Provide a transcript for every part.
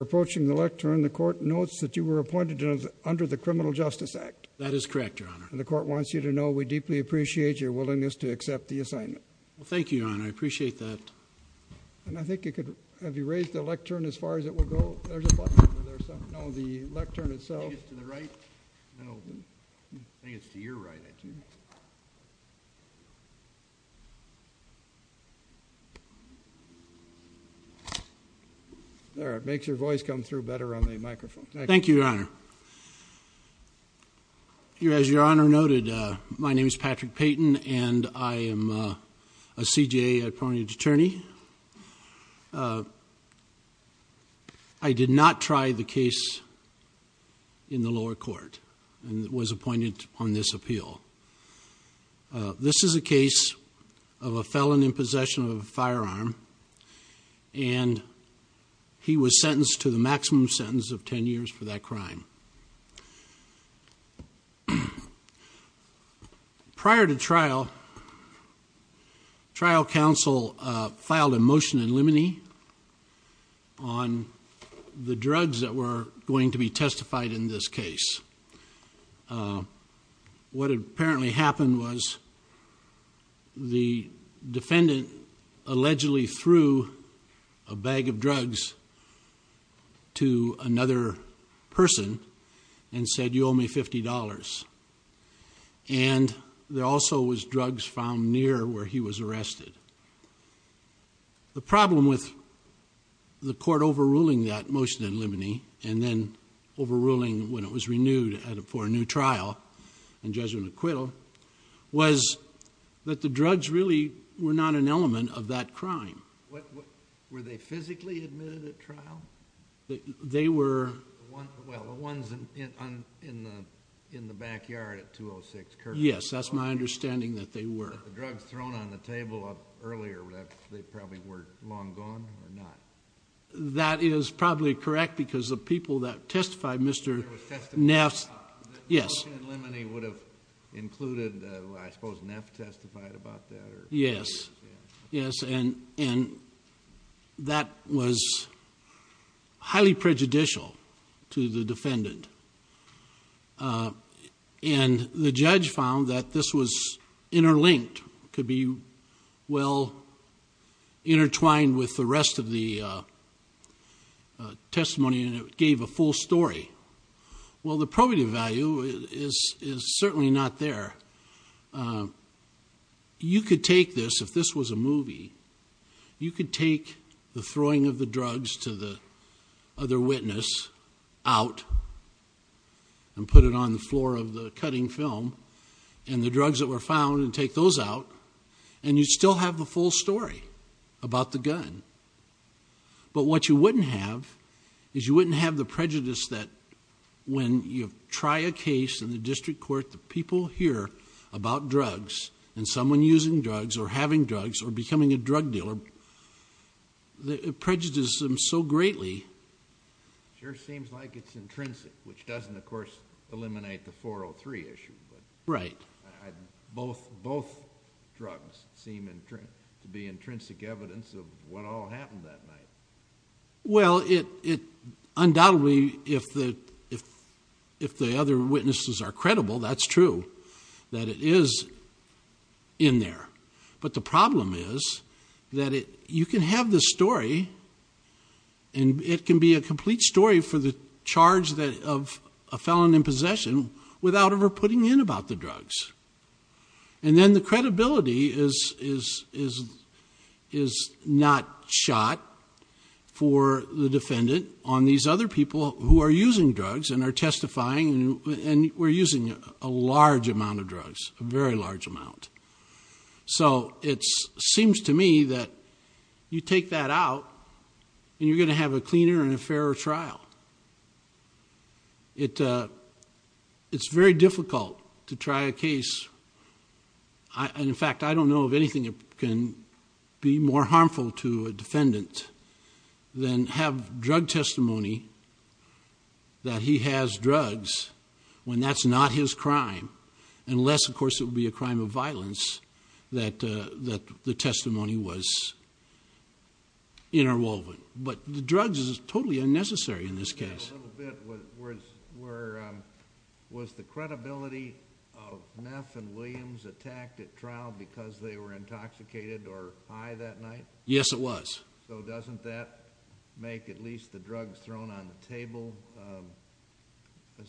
Approaching the lectern, the court notes that you were appointed under the Criminal Justice Act. That is correct, Your Honor. And the court wants you to know we deeply appreciate your willingness to accept the assignment. Well, thank you, Your Honor. I appreciate that. And I think you could, have you raised the lectern as far as it will go? There's a button over there somewhere. No, the lectern itself. I think it's to the right. No, I think it's to your right, I think. There, it makes your voice come through better on the microphone. Thank you, Your Honor. As Your Honor noted, my name is Patrick Payton and I am a CJA Appointed Attorney. I did not try the case in the lower court and was appointed on this appeal. This is a case of a felon in possession of a firearm and he was sentenced to the maximum sentence of 10 years for that crime. Prior to trial, trial counsel filed a motion in limine on the drugs that were going to be testified in this case. What apparently happened was the defendant allegedly threw a bag of drugs to another person and said, you owe me $50. And there also was drugs found near where he was arrested. The problem with the court overruling that motion in limine and then overruling when it was renewed for a new trial in Jesuit and acquittal was that the drugs really were not an element of that crime. Were they physically admitted at trial? They were. Well, the ones in the backyard at 206 Kirkland. Yes, that's my understanding that they were. But the drugs thrown on the table earlier, they probably were long gone or not? That is probably correct because the people that testified, Mr. Neff, yes. The motion in limine would have included, I suppose, Neff testified about that? Yes, yes, and that was highly prejudicial to the defendant. And the judge found that this was interlinked, could be well intertwined with the rest of the testimony and it gave a full story. Well, the probative value is certainly not there. You could take this, if this was a movie, you could take the throwing of the drugs to the other witness out, and put it on the floor of the cutting film and the drugs that were found and take those out. And you'd still have the full story about the gun. But what you wouldn't have is you wouldn't have the prejudice that when you try a case in the district court, the people hear about drugs and someone using drugs or having drugs or becoming a drug dealer. It prejudices them so greatly. It sure seems like it's intrinsic, which doesn't, of course, eliminate the 403 issue. Right. Both drugs seem to be intrinsic evidence of what all happened that night. Well, undoubtedly, if the other witnesses are credible, that's true, that it is in there. But the problem is that you can have the story and it can be a complete story for the charge of a felon in possession without ever putting in about the drugs. And then the credibility is not shot for the defendant on these other people who are using drugs and are testifying and were using a large amount of drugs, a very large amount. So it seems to me that you take that out and you're going to have a cleaner and a fairer trial. It's very difficult to try a case. And in fact, I don't know of anything that can be more harmful to a defendant than have drug testimony that he has drugs when that's not his crime. Unless, of course, it would be a crime of violence that the testimony was interwoven. But the drugs is totally unnecessary in this case. Can I add a little bit? Was the credibility of Meth and Williams attacked at trial because they were intoxicated or high that night? Yes, it was. Was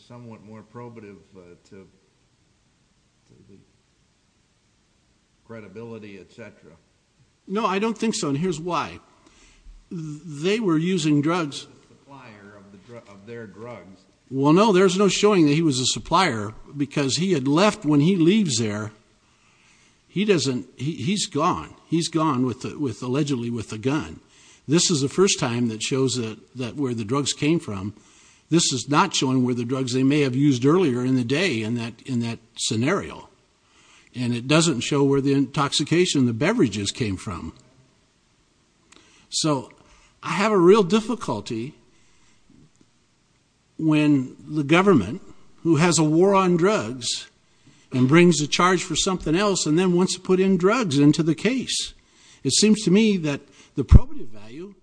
it somewhat more probative to the credibility, etc.? No, I don't think so. And here's why. They were using drugs. He was a supplier of their drugs. Well, no, there's no showing that he was a supplier because he had left when he leaves there. He's gone. He's gone allegedly with a gun. This is the first time that shows that where the drugs came from. This is not showing where the drugs they may have used earlier in the day in that scenario. And it doesn't show where the intoxication, the beverages came from. So I have a real difficulty when the government who has a war on drugs and brings the charge for something else and then wants to put in drugs into the case. It seems to me that the probative value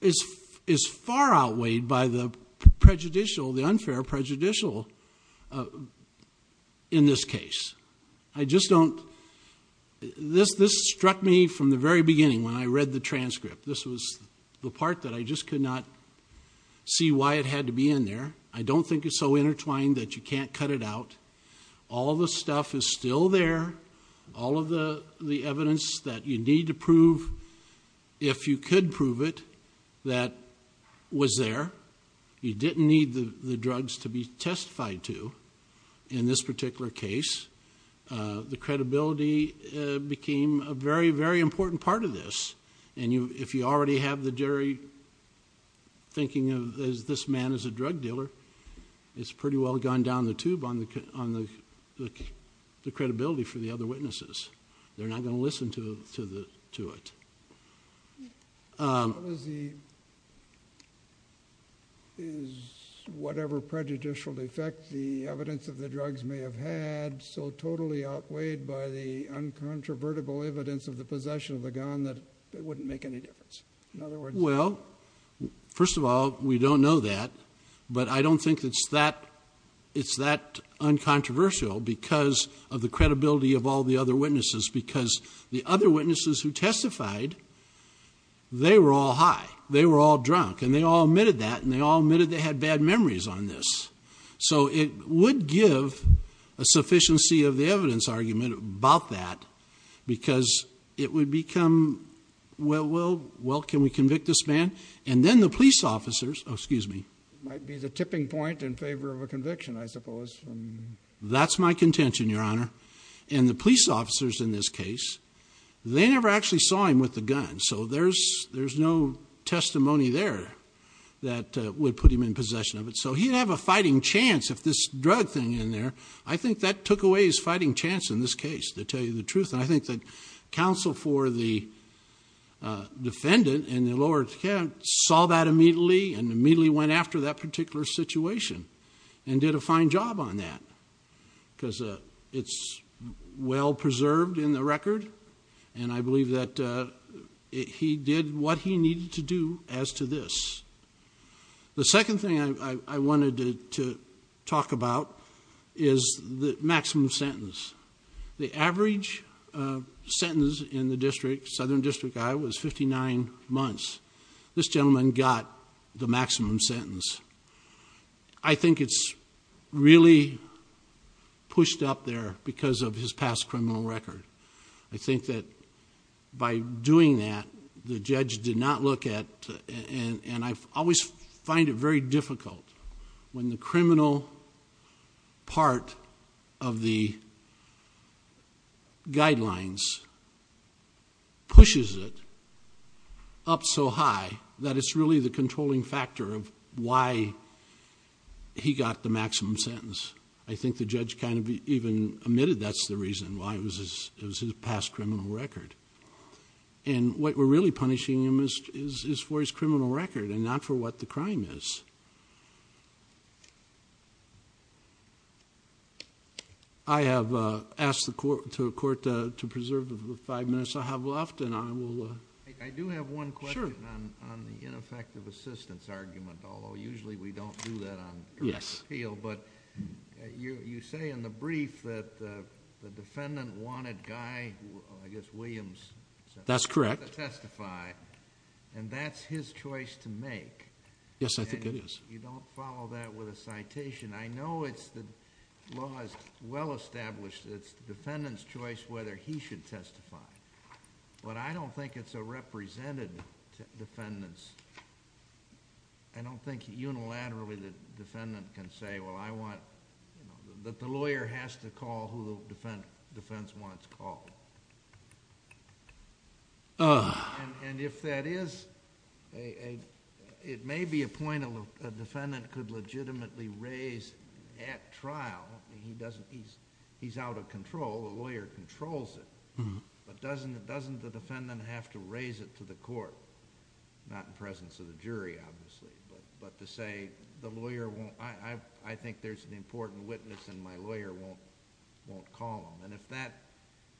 is far outweighed by the unfair prejudicial in this case. This struck me from the very beginning when I read the transcript. This was the part that I just could not see why it had to be in there. I don't think it's so intertwined that you can't cut it out. All the stuff is still there. All of the evidence that you need to prove, if you could prove it, that was there. You didn't need the drugs to be testified to in this particular case. The credibility became a very, very important part of this. And if you already have the jury thinking of this man as a drug dealer, it's pretty well gone down the tube on the credibility for the other witnesses. They're not going to listen to it. Is whatever prejudicial effect the evidence of the drugs may have had so totally outweighed by the uncontrovertible evidence of the possession of the gun that it wouldn't make any difference? Well, first of all, we don't know that. But I don't think it's that uncontroversial because of the credibility of all the other witnesses. Because the other witnesses who testified, they were all high. They were all drunk. And they all admitted that. And they all admitted they had bad memories on this. So it would give a sufficiency of the evidence argument about that because it would become, well, can we convict this man? And then the police officers, excuse me. Might be the tipping point in favor of a conviction, I suppose. That's my contention, Your Honor. And the police officers in this case, they never actually saw him with the gun. So there's no testimony there that would put him in possession of it. So he'd have a fighting chance if this drug thing in there. I think that took away his fighting chance in this case, to tell you the truth. And I think that counsel for the defendant in the lower saw that immediately and immediately went after that particular situation and did a fine job on that because it's well-preserved in the record. And I believe that he did what he needed to do as to this. The second thing I wanted to talk about is the maximum sentence. The average sentence in the district, Southern District, Iowa, is 59 months. This gentleman got the maximum sentence. I think it's really pushed up there because of his past criminal record. I think that by doing that, the judge did not look at, and I always find it very difficult when the criminal part of the judge's guidelines pushes it up so high that it's really the controlling factor of why he got the maximum sentence. I think the judge kind of even admitted that's the reason why it was his past criminal record. And what we're really punishing him is for his criminal record and not for what the crime is. I have asked the court to preserve the five minutes I have left, and I will... I do have one question on the ineffective assistance argument, although usually we don't do that on correct appeal. But you say in the brief that the defendant wanted Guy, I guess Williams... That's correct. ...to testify, and that's his choice to make. Yes, I think it is. You don't follow that with a citation. I know the law is well-established. It's the defendant's choice whether he should testify, but I don't think it's a represented defendant's. I don't think unilaterally the defendant can say, well, I want... that the lawyer has to call who the defense wants called. And if that is... it may be a point a defendant could legitimately raise at trial. He's out of control. The lawyer controls it. But doesn't the defendant have to raise it to the court? Not in presence of the jury, obviously, but to say the lawyer won't... I think there's an important witness and my lawyer won't call him. If that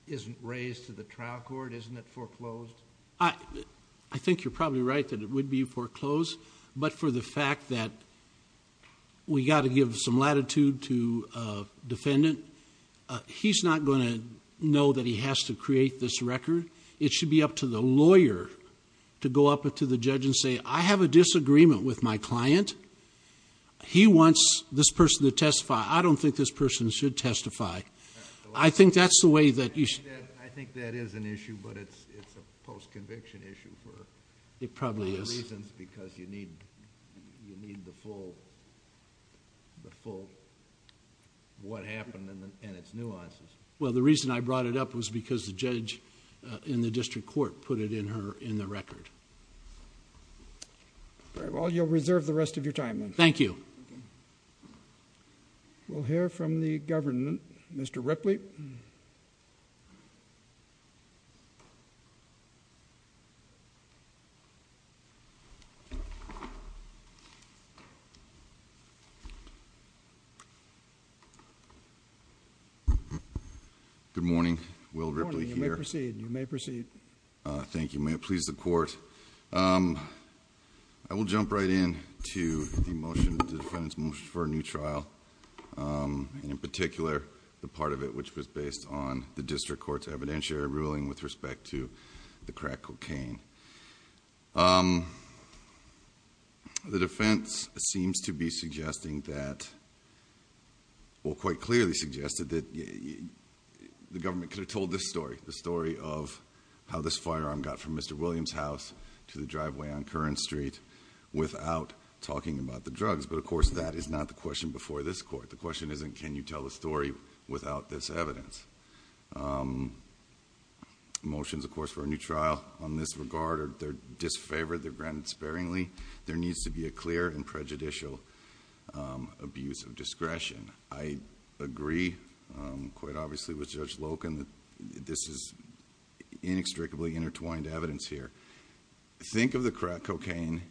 isn't raised to the trial court, isn't it foreclosed? I think you're probably right that it would be foreclosed, but for the fact that we got to give some latitude to a defendant, he's not going to know that he has to create this record. It should be up to the lawyer to go up to the judge and say, I have a disagreement with my client. He wants this person to testify. I don't think this person should testify. I think that's the way that... I think that is an issue, but it's a post-conviction issue for... It probably is.... reasons because you need the full... what happened and its nuances. Well, the reason I brought it up was because the judge in the district court put it in the record. Well, you'll reserve the rest of your time then. Thank you. Thank you. We'll hear from the governor, Mr. Ripley. Good morning. Will Ripley here. Good morning. You may proceed. You may proceed. Thank you. May it please the court. I will jump right in to the motion, the defendant's motion for a new trial. In particular, the part of it which was based on the district court's evidentiary ruling with respect to the crack cocaine. The defense seems to be suggesting that... well, quite clearly suggested that the government could have told this story, the story of how this firearm got from Mr. Williams' house to the driveway on Curran Street without talking about the drugs. But, of course, that is not the question before this court. The question isn't can you tell the story without this evidence. Motions, of course, for a new trial on this regard are disfavored. They're granted sparingly. There needs to be a clear and prejudicial abuse of discretion. I agree quite obviously with Judge Loken that this is inextricably intertwined evidence here. Think of the crack cocaine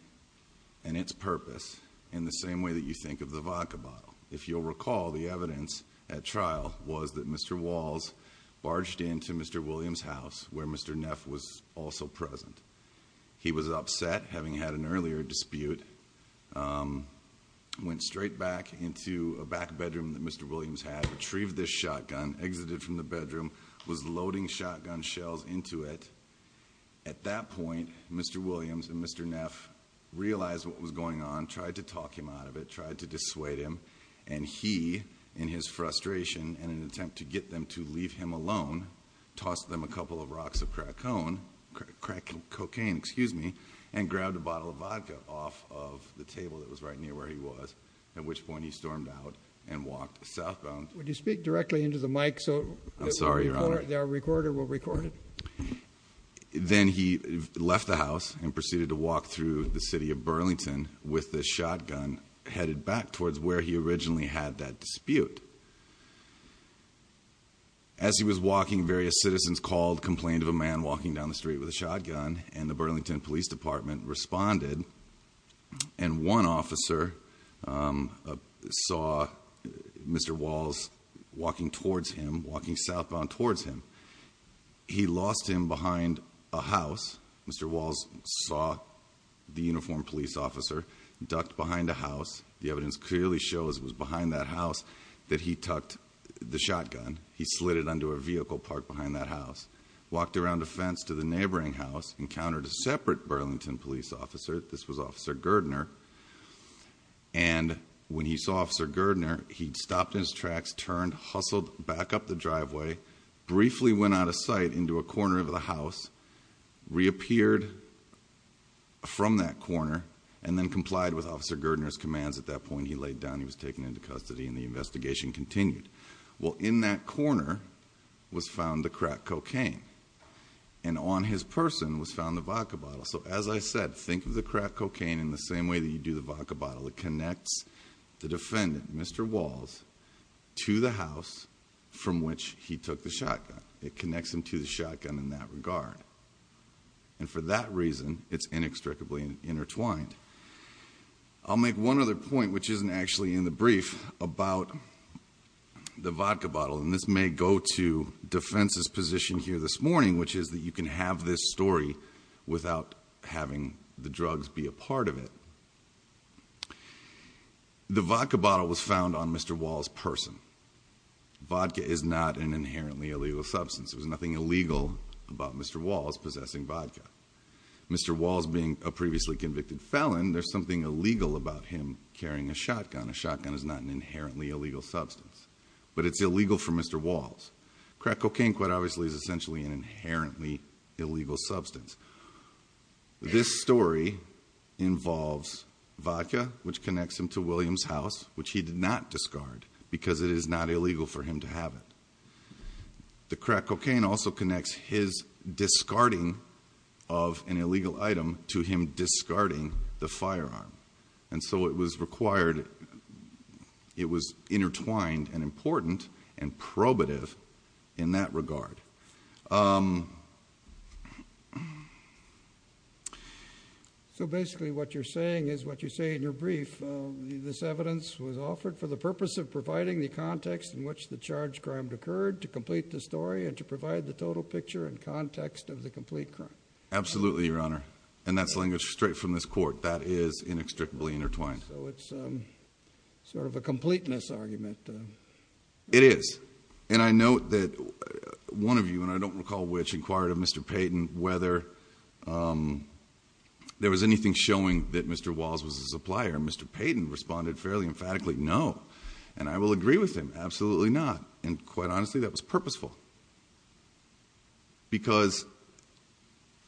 and its purpose in the same way that you think of the vodka bottle. If you'll recall, the evidence at trial was that Mr. Walls barged into Mr. Williams' house where Mr. Neff was also present. He was upset, having had an earlier dispute, went straight back into a back bedroom that Mr. Williams had, retrieved this shotgun, exited from the bedroom, was loading shotgun shells into it. At that point, Mr. Williams and Mr. Neff realized what was going on, tried to talk him out of it, tried to dissuade him. And he, in his frustration and an attempt to get them to leave him alone, tossed them a couple of rocks of crack cocaine and grabbed a bottle of vodka off of the table that was right near where he was, at which point he stormed out and walked southbound. Would you speak directly into the mic so that our recorder will record it? Then he left the house and proceeded to walk through the city of Burlington with the shotgun headed back towards where he originally had that dispute. As he was walking, various citizens called, complained of a man walking down the street with a shotgun, and the Burlington Police Department responded. And one officer saw Mr. Walls walking towards him, walking southbound towards him. He lost him behind a house. Mr. Walls saw the uniformed police officer ducked behind a house. The evidence clearly shows it was behind that house. That he tucked the shotgun, he slid it under a vehicle parked behind that house, walked around a fence to the neighboring house, encountered a separate Burlington police officer. This was Officer Girdner. And when he saw Officer Girdner, he'd stopped in his tracks, turned, hustled back up the driveway, briefly went out of sight into a corner of the house, reappeared from that corner, and then complied with Officer Girdner's commands. At that point, he laid down, he was taken into custody, and the investigation continued. Well, in that corner was found the cracked cocaine. And on his person was found the vodka bottle. So as I said, think of the cracked cocaine in the same way that you do the vodka bottle. It connects the defendant, Mr. Walls, to the house from which he took the shotgun. It connects him to the shotgun in that regard. And for that reason, it's inextricably intertwined. I'll make one other point, which isn't actually in the brief, about the vodka bottle. And this may go to defense's position here this morning, which is that you can have this story without having the drugs be a part of it. The vodka bottle was found on Mr. Walls' person. Vodka is not an inherently illegal substance. There's nothing illegal about Mr. Walls possessing vodka. Mr. Walls being a previously convicted felon, there's something illegal about him carrying a shotgun. A shotgun is not an inherently illegal substance. But it's illegal for Mr. Walls. Cracked cocaine, quite obviously, is essentially an inherently illegal substance. This story involves vodka, which connects him to Williams' house, which he did not discard because it is not illegal for him to have it. The cracked cocaine also connects his discarding of an illegal item to him discarding the firearm. And so it was required, it was intertwined and important and probative in that regard. So basically what you're saying is what you say in your brief. This evidence was offered for the purpose of providing the context in which the charged crime occurred to complete the story and to provide the total picture and context of the complete crime. Absolutely, Your Honor. And that's language straight from this court. That is inextricably intertwined. So it's sort of a completeness argument. It is. And I note that one of you, and I don't recall which, inquired of Mr. Payton whether there was anything showing that Mr. Walls was a supplier. Mr. Payton responded fairly emphatically, no. And I will agree with him, absolutely not. And quite honestly, that was purposeful. Because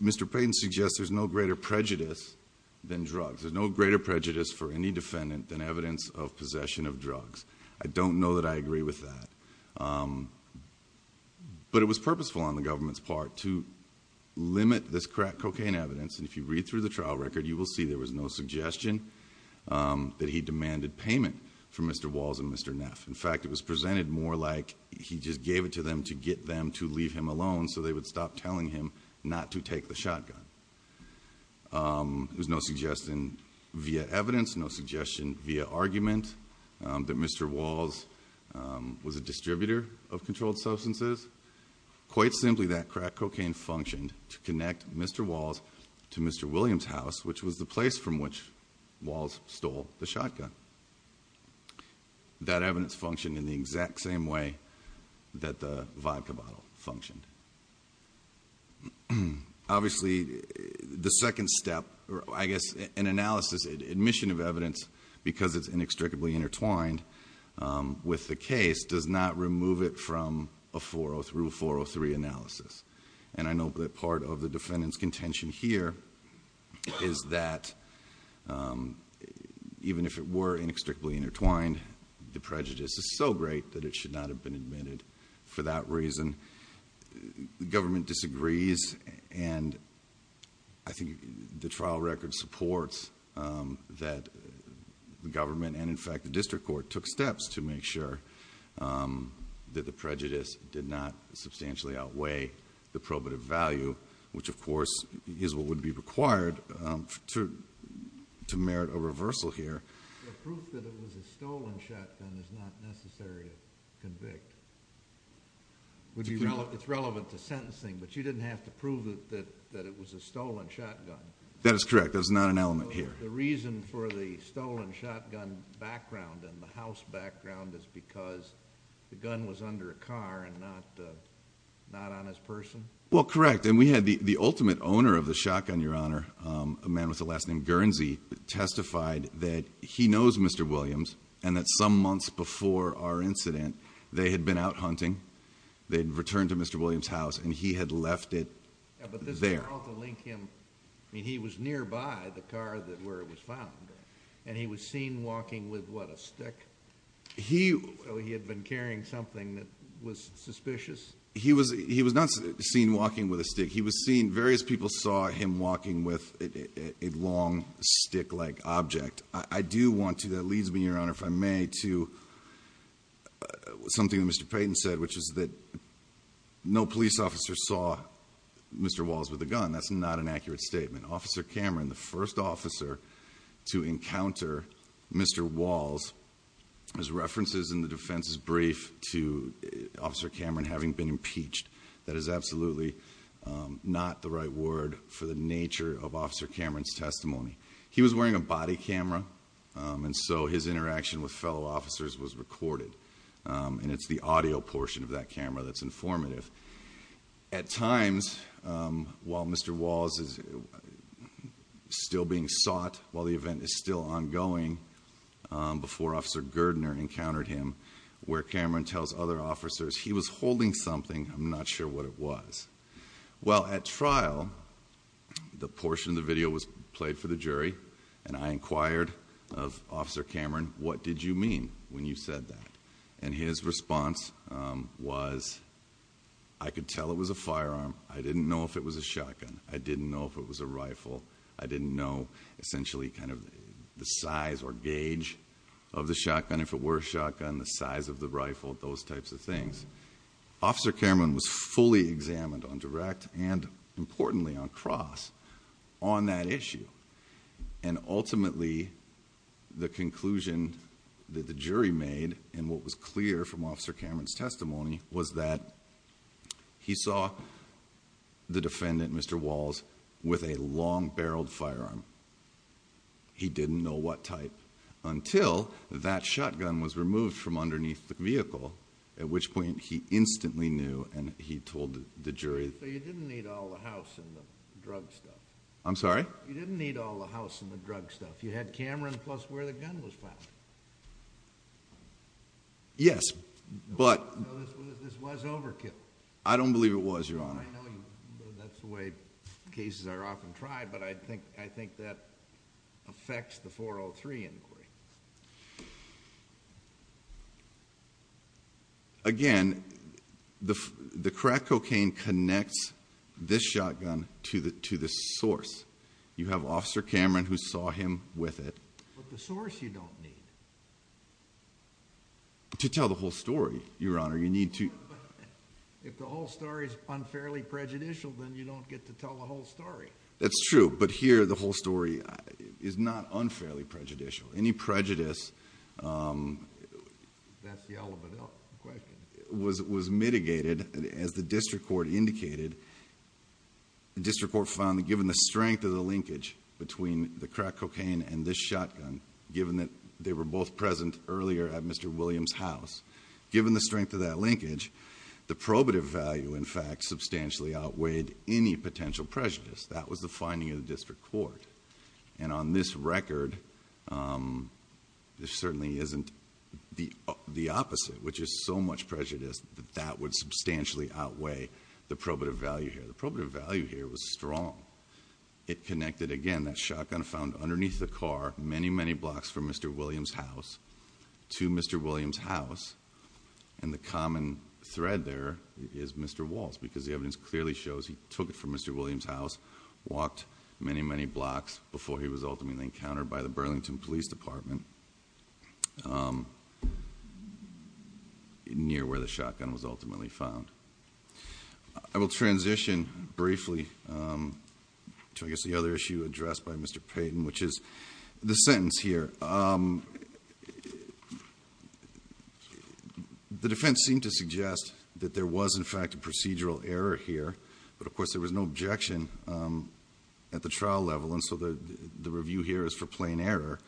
Mr. Payton suggests there's no greater prejudice than drugs. There's no greater prejudice for any defendant than evidence of possession of drugs. I don't know that I agree with that. But it was purposeful on the government's part to limit this crack cocaine evidence. And if you read through the trial record, you will see there was no suggestion that he demanded payment from Mr. Walls and Mr. Neff. In fact, it was presented more like he just gave it to them to get them to leave him alone so they would stop telling him not to take the shotgun. There was no suggestion via evidence, no suggestion via argument that Mr. Walls was a distributor of controlled substances. Quite simply, that crack cocaine functioned to connect Mr. Walls to Mr. Williams' house, which was the place from which Walls stole the shotgun. That evidence functioned in the exact same way that the vodka bottle functioned. Obviously, the second step, or I guess an analysis, admission of evidence, because it's inextricably intertwined with the case does not remove it from a 403-403 analysis. And I know that part of the defendant's contention here is that even if it were inextricably intertwined, the prejudice is so great that it should not have been admitted for that reason. The government disagrees. And I think the trial record supports that the government, and in fact the district court, took steps to make sure that the prejudice did not substantially outweigh the probative value, which of course is what would be required to merit a reversal here. The proof that it was a stolen shotgun is not necessary to convict. It would be relevant to sentencing, but you didn't have to prove that it was a stolen shotgun. That is correct. There's not an element here. The reason for the stolen shotgun background and the house background is because the gun was under a car and not on his person? Well, correct. And we had the ultimate owner of the shotgun, Your Honor, a man with the last name Guernsey, testified that he knows Mr. Williams and that some months before our incident, they had been out hunting. They had returned to Mr. Williams' house and he had left it there. But this trial to link him, I mean, he was nearby the car where it was found and he was seen walking with, what, a stick? So he had been carrying something that was suspicious? He was not seen walking with a stick. He was seen, various people saw him walking with a long stick-like object. I do want to, that leads me, Your Honor, if I may, to something that Mr. Payton said, which is that no police officer saw Mr. Walls with a gun. That's not an accurate statement. Officer Cameron, the first officer to encounter Mr. Walls, his references in the defense is brief to Officer Cameron having been impeached. That is absolutely not the right word for the nature of Officer Cameron's testimony. He was wearing a body camera and so his interaction with fellow officers was recorded. And it's the audio portion of that camera that's informative. At times, while Mr. Walls is still being sought, while the event is still ongoing, before Officer Girdner encountered him, where Cameron tells other officers, he was holding something, I'm not sure what it was. Well, at trial, the portion of the video was played for the jury, and I inquired of Officer Cameron, what did you mean when you said that? And his response was, I could tell it was a firearm. I didn't know if it was a shotgun. I didn't know if it was a rifle. I didn't know, essentially, kind of the size or gauge of the shotgun, if it were a shotgun, the size of the rifle, those types of things. Officer Cameron was fully examined on direct and, importantly, on cross on that issue. And ultimately, the conclusion that the jury made, and what was clear from Officer Cameron's testimony, was that he saw the defendant, Mr. Walls, with a long-barreled firearm. He didn't know what type until that shotgun was removed from underneath the vehicle, at which point he instantly knew and he told the jury. So you didn't need all the house and the drug stuff? I'm sorry? You didn't need all the house and the drug stuff. You had Cameron plus where the gun was found. Yes, but... No, this was overkill. I don't believe it was, Your Honor. I know that's the way cases are often tried, but I think that affects the 403 inquiry. Again, the crack cocaine connects this shotgun to the source. You have Officer Cameron who saw him with it. But the source you don't need. To tell the whole story, Your Honor, you need to... If the whole story is unfairly prejudicial, then you don't get to tell the whole story. That's true. But here, the whole story is not unfairly prejudicial. Any prejudice was mitigated, as the district court indicated. The district court found that given the strength of the linkage between the crack cocaine and this shotgun, given that they were both present earlier at Mr. Williams' house, given the strength of that linkage, the probative value, in fact, substantially outweighed any potential prejudice. That was the finding of the district court. And on this record, there certainly isn't the opposite, which is so much prejudice that that would substantially outweigh the probative value here. The probative value here was strong. It connected, again, that shotgun found underneath the car many, many blocks from Mr. Williams' house to Mr. Williams' house. And the common thread there is Mr. Walsh, because the evidence clearly shows he took it from Mr. Williams' house, walked many, many blocks before he was ultimately encountered by the Burlington Police Department near where the shotgun was ultimately found. I will transition briefly to, I guess, the other issue addressed by Mr. Payton, which is the sentence here. The defense seemed to suggest that there was, in fact, a procedural error here. But of course, there was no objection at the trial level. And so the review here is for plain error.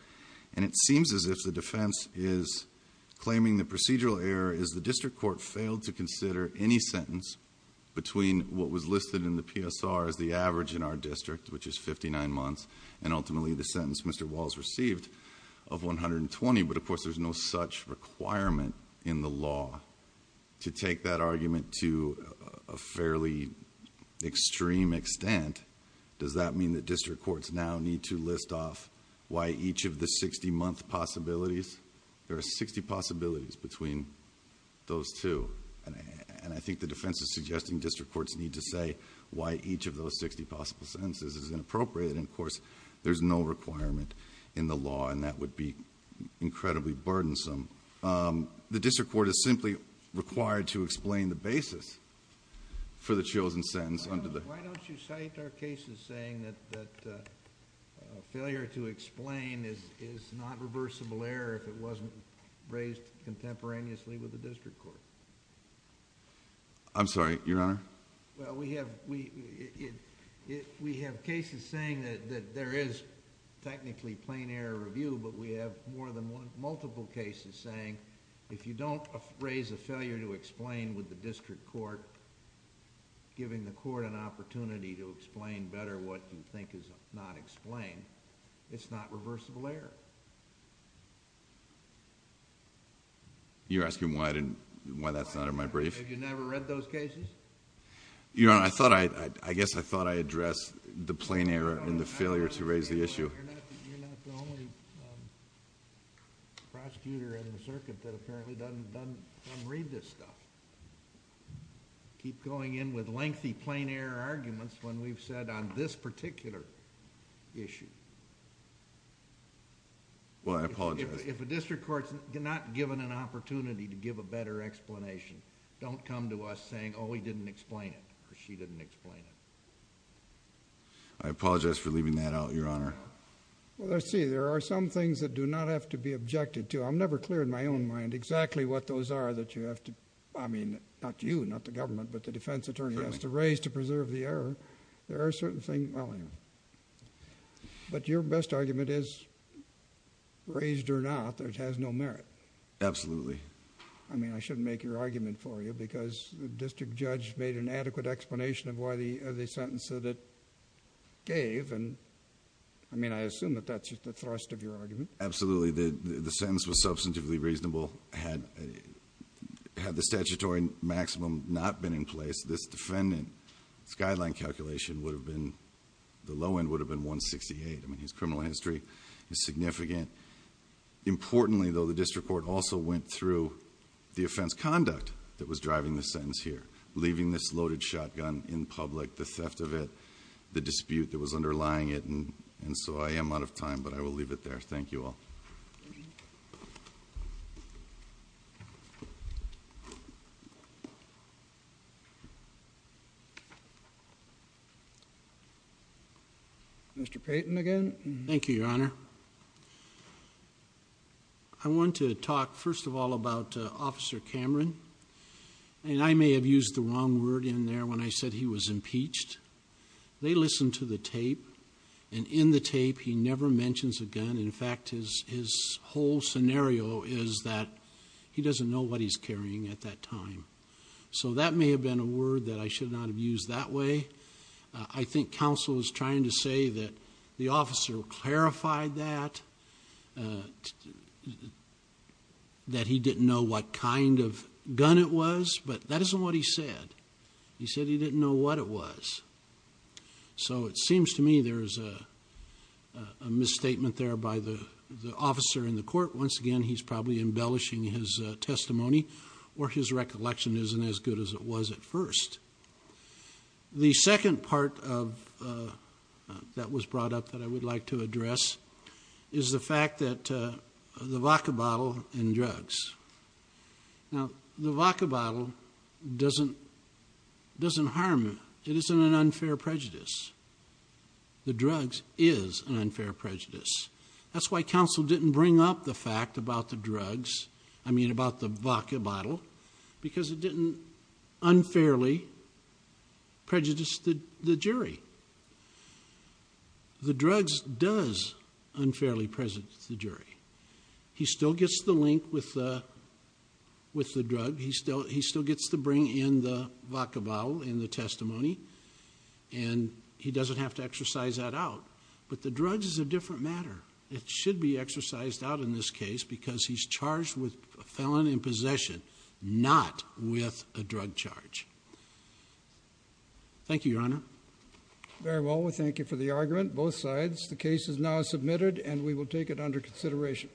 And it seems as if the defense is claiming the procedural error is the district court failed to consider any sentence between what was listed in the PSR as the average in our district, which is 59 months, and ultimately the sentence Mr. Walsh received of 120. But of course, there's no such requirement in the law to take that argument to a fairly extreme extent. Does that mean that district courts now need to list off why each of the 60-month possibilities? There are 60 possibilities between those two. And I think the defense is suggesting district courts need to say why each of those 60 possible sentences is inappropriate. And of course, there's no requirement in the law, and that would be incredibly burdensome. The district court is simply required to explain the basis for the chosen sentence under the... Are there cases saying that failure to explain is not reversible error if it wasn't raised contemporaneously with the district court? I'm sorry, Your Honor? Well, we have cases saying that there is technically plain error review, but we have multiple cases saying if you don't raise a failure to explain with the district court, giving the court an opportunity to explain better what you think is not explained, it's not reversible error. You're asking why that's not in my brief? Have you never read those cases? Your Honor, I guess I thought I addressed the plain error in the failure to raise the issue. You're not the only prosecutor in the circuit that apparently doesn't read this stuff. Keep going in with lengthy plain error arguments when we've said on this particular issue. Well, I apologize. If a district court's not given an opportunity to give a better explanation, don't come to us saying, oh, he didn't explain it, or she didn't explain it. I apologize for leaving that out, Your Honor. Well, let's see. There are some things that do not have to be objected to. I'm never clear in my own mind exactly what those are that you have to... not you, not the government, but the defense attorney has to raise to preserve the error. There are certain things... But your best argument is, raised or not, it has no merit. Absolutely. I mean, I shouldn't make your argument for you because the district judge made an adequate explanation of why the sentence that it gave. I mean, I assume that that's just the thrust of your argument. Absolutely. The sentence was substantively reasonable. Had the statutory maximum not been in place, this defendant's guideline calculation would have been... the low end would have been 168. I mean, his criminal history is significant. Importantly, though, the district court also went through the offense conduct that was driving the sentence here, leaving this loaded shotgun in public, the theft of it, the dispute that was underlying it. And so, I am out of time, but I will leave it there. Thank you all. Mr. Payton again. Thank you, Your Honor. I want to talk, first of all, about Officer Cameron. And I may have used the wrong word in there when I said he was impeached. They listened to the tape, and in the tape he never mentions a gun. In fact, his whole scenario is that he doesn't know what he's carrying at that time. So that may have been a word that I should not have used that way. I think counsel is trying to say that the officer clarified that, that he didn't know what kind of gun it was. But that isn't what he said. He said he didn't know what it was. So it seems to me there's a misstatement there by the officer in the court. Once again, he's probably embellishing his testimony, or his recollection isn't as good as it was at first. The second part that was brought up that I would like to address is the fact that the vodka bottle and drugs. Now, the vodka bottle doesn't harm him. It isn't an unfair prejudice. The drugs is an unfair prejudice. That's why counsel didn't bring up the fact about the drugs, I mean about the vodka bottle, because it didn't unfairly prejudice the jury. The drugs does unfairly prejudice the jury. He still gets the link with the drug. He still gets to bring in the vodka bottle in the testimony. And he doesn't have to exercise that out. But the drugs is a different matter. It should be exercised out in this case, because he's charged with a felon in possession, not with a drug charge. Thank you, Your Honor. Very well, we thank you for the argument, both sides. The case is now submitted, and we will take it under consideration.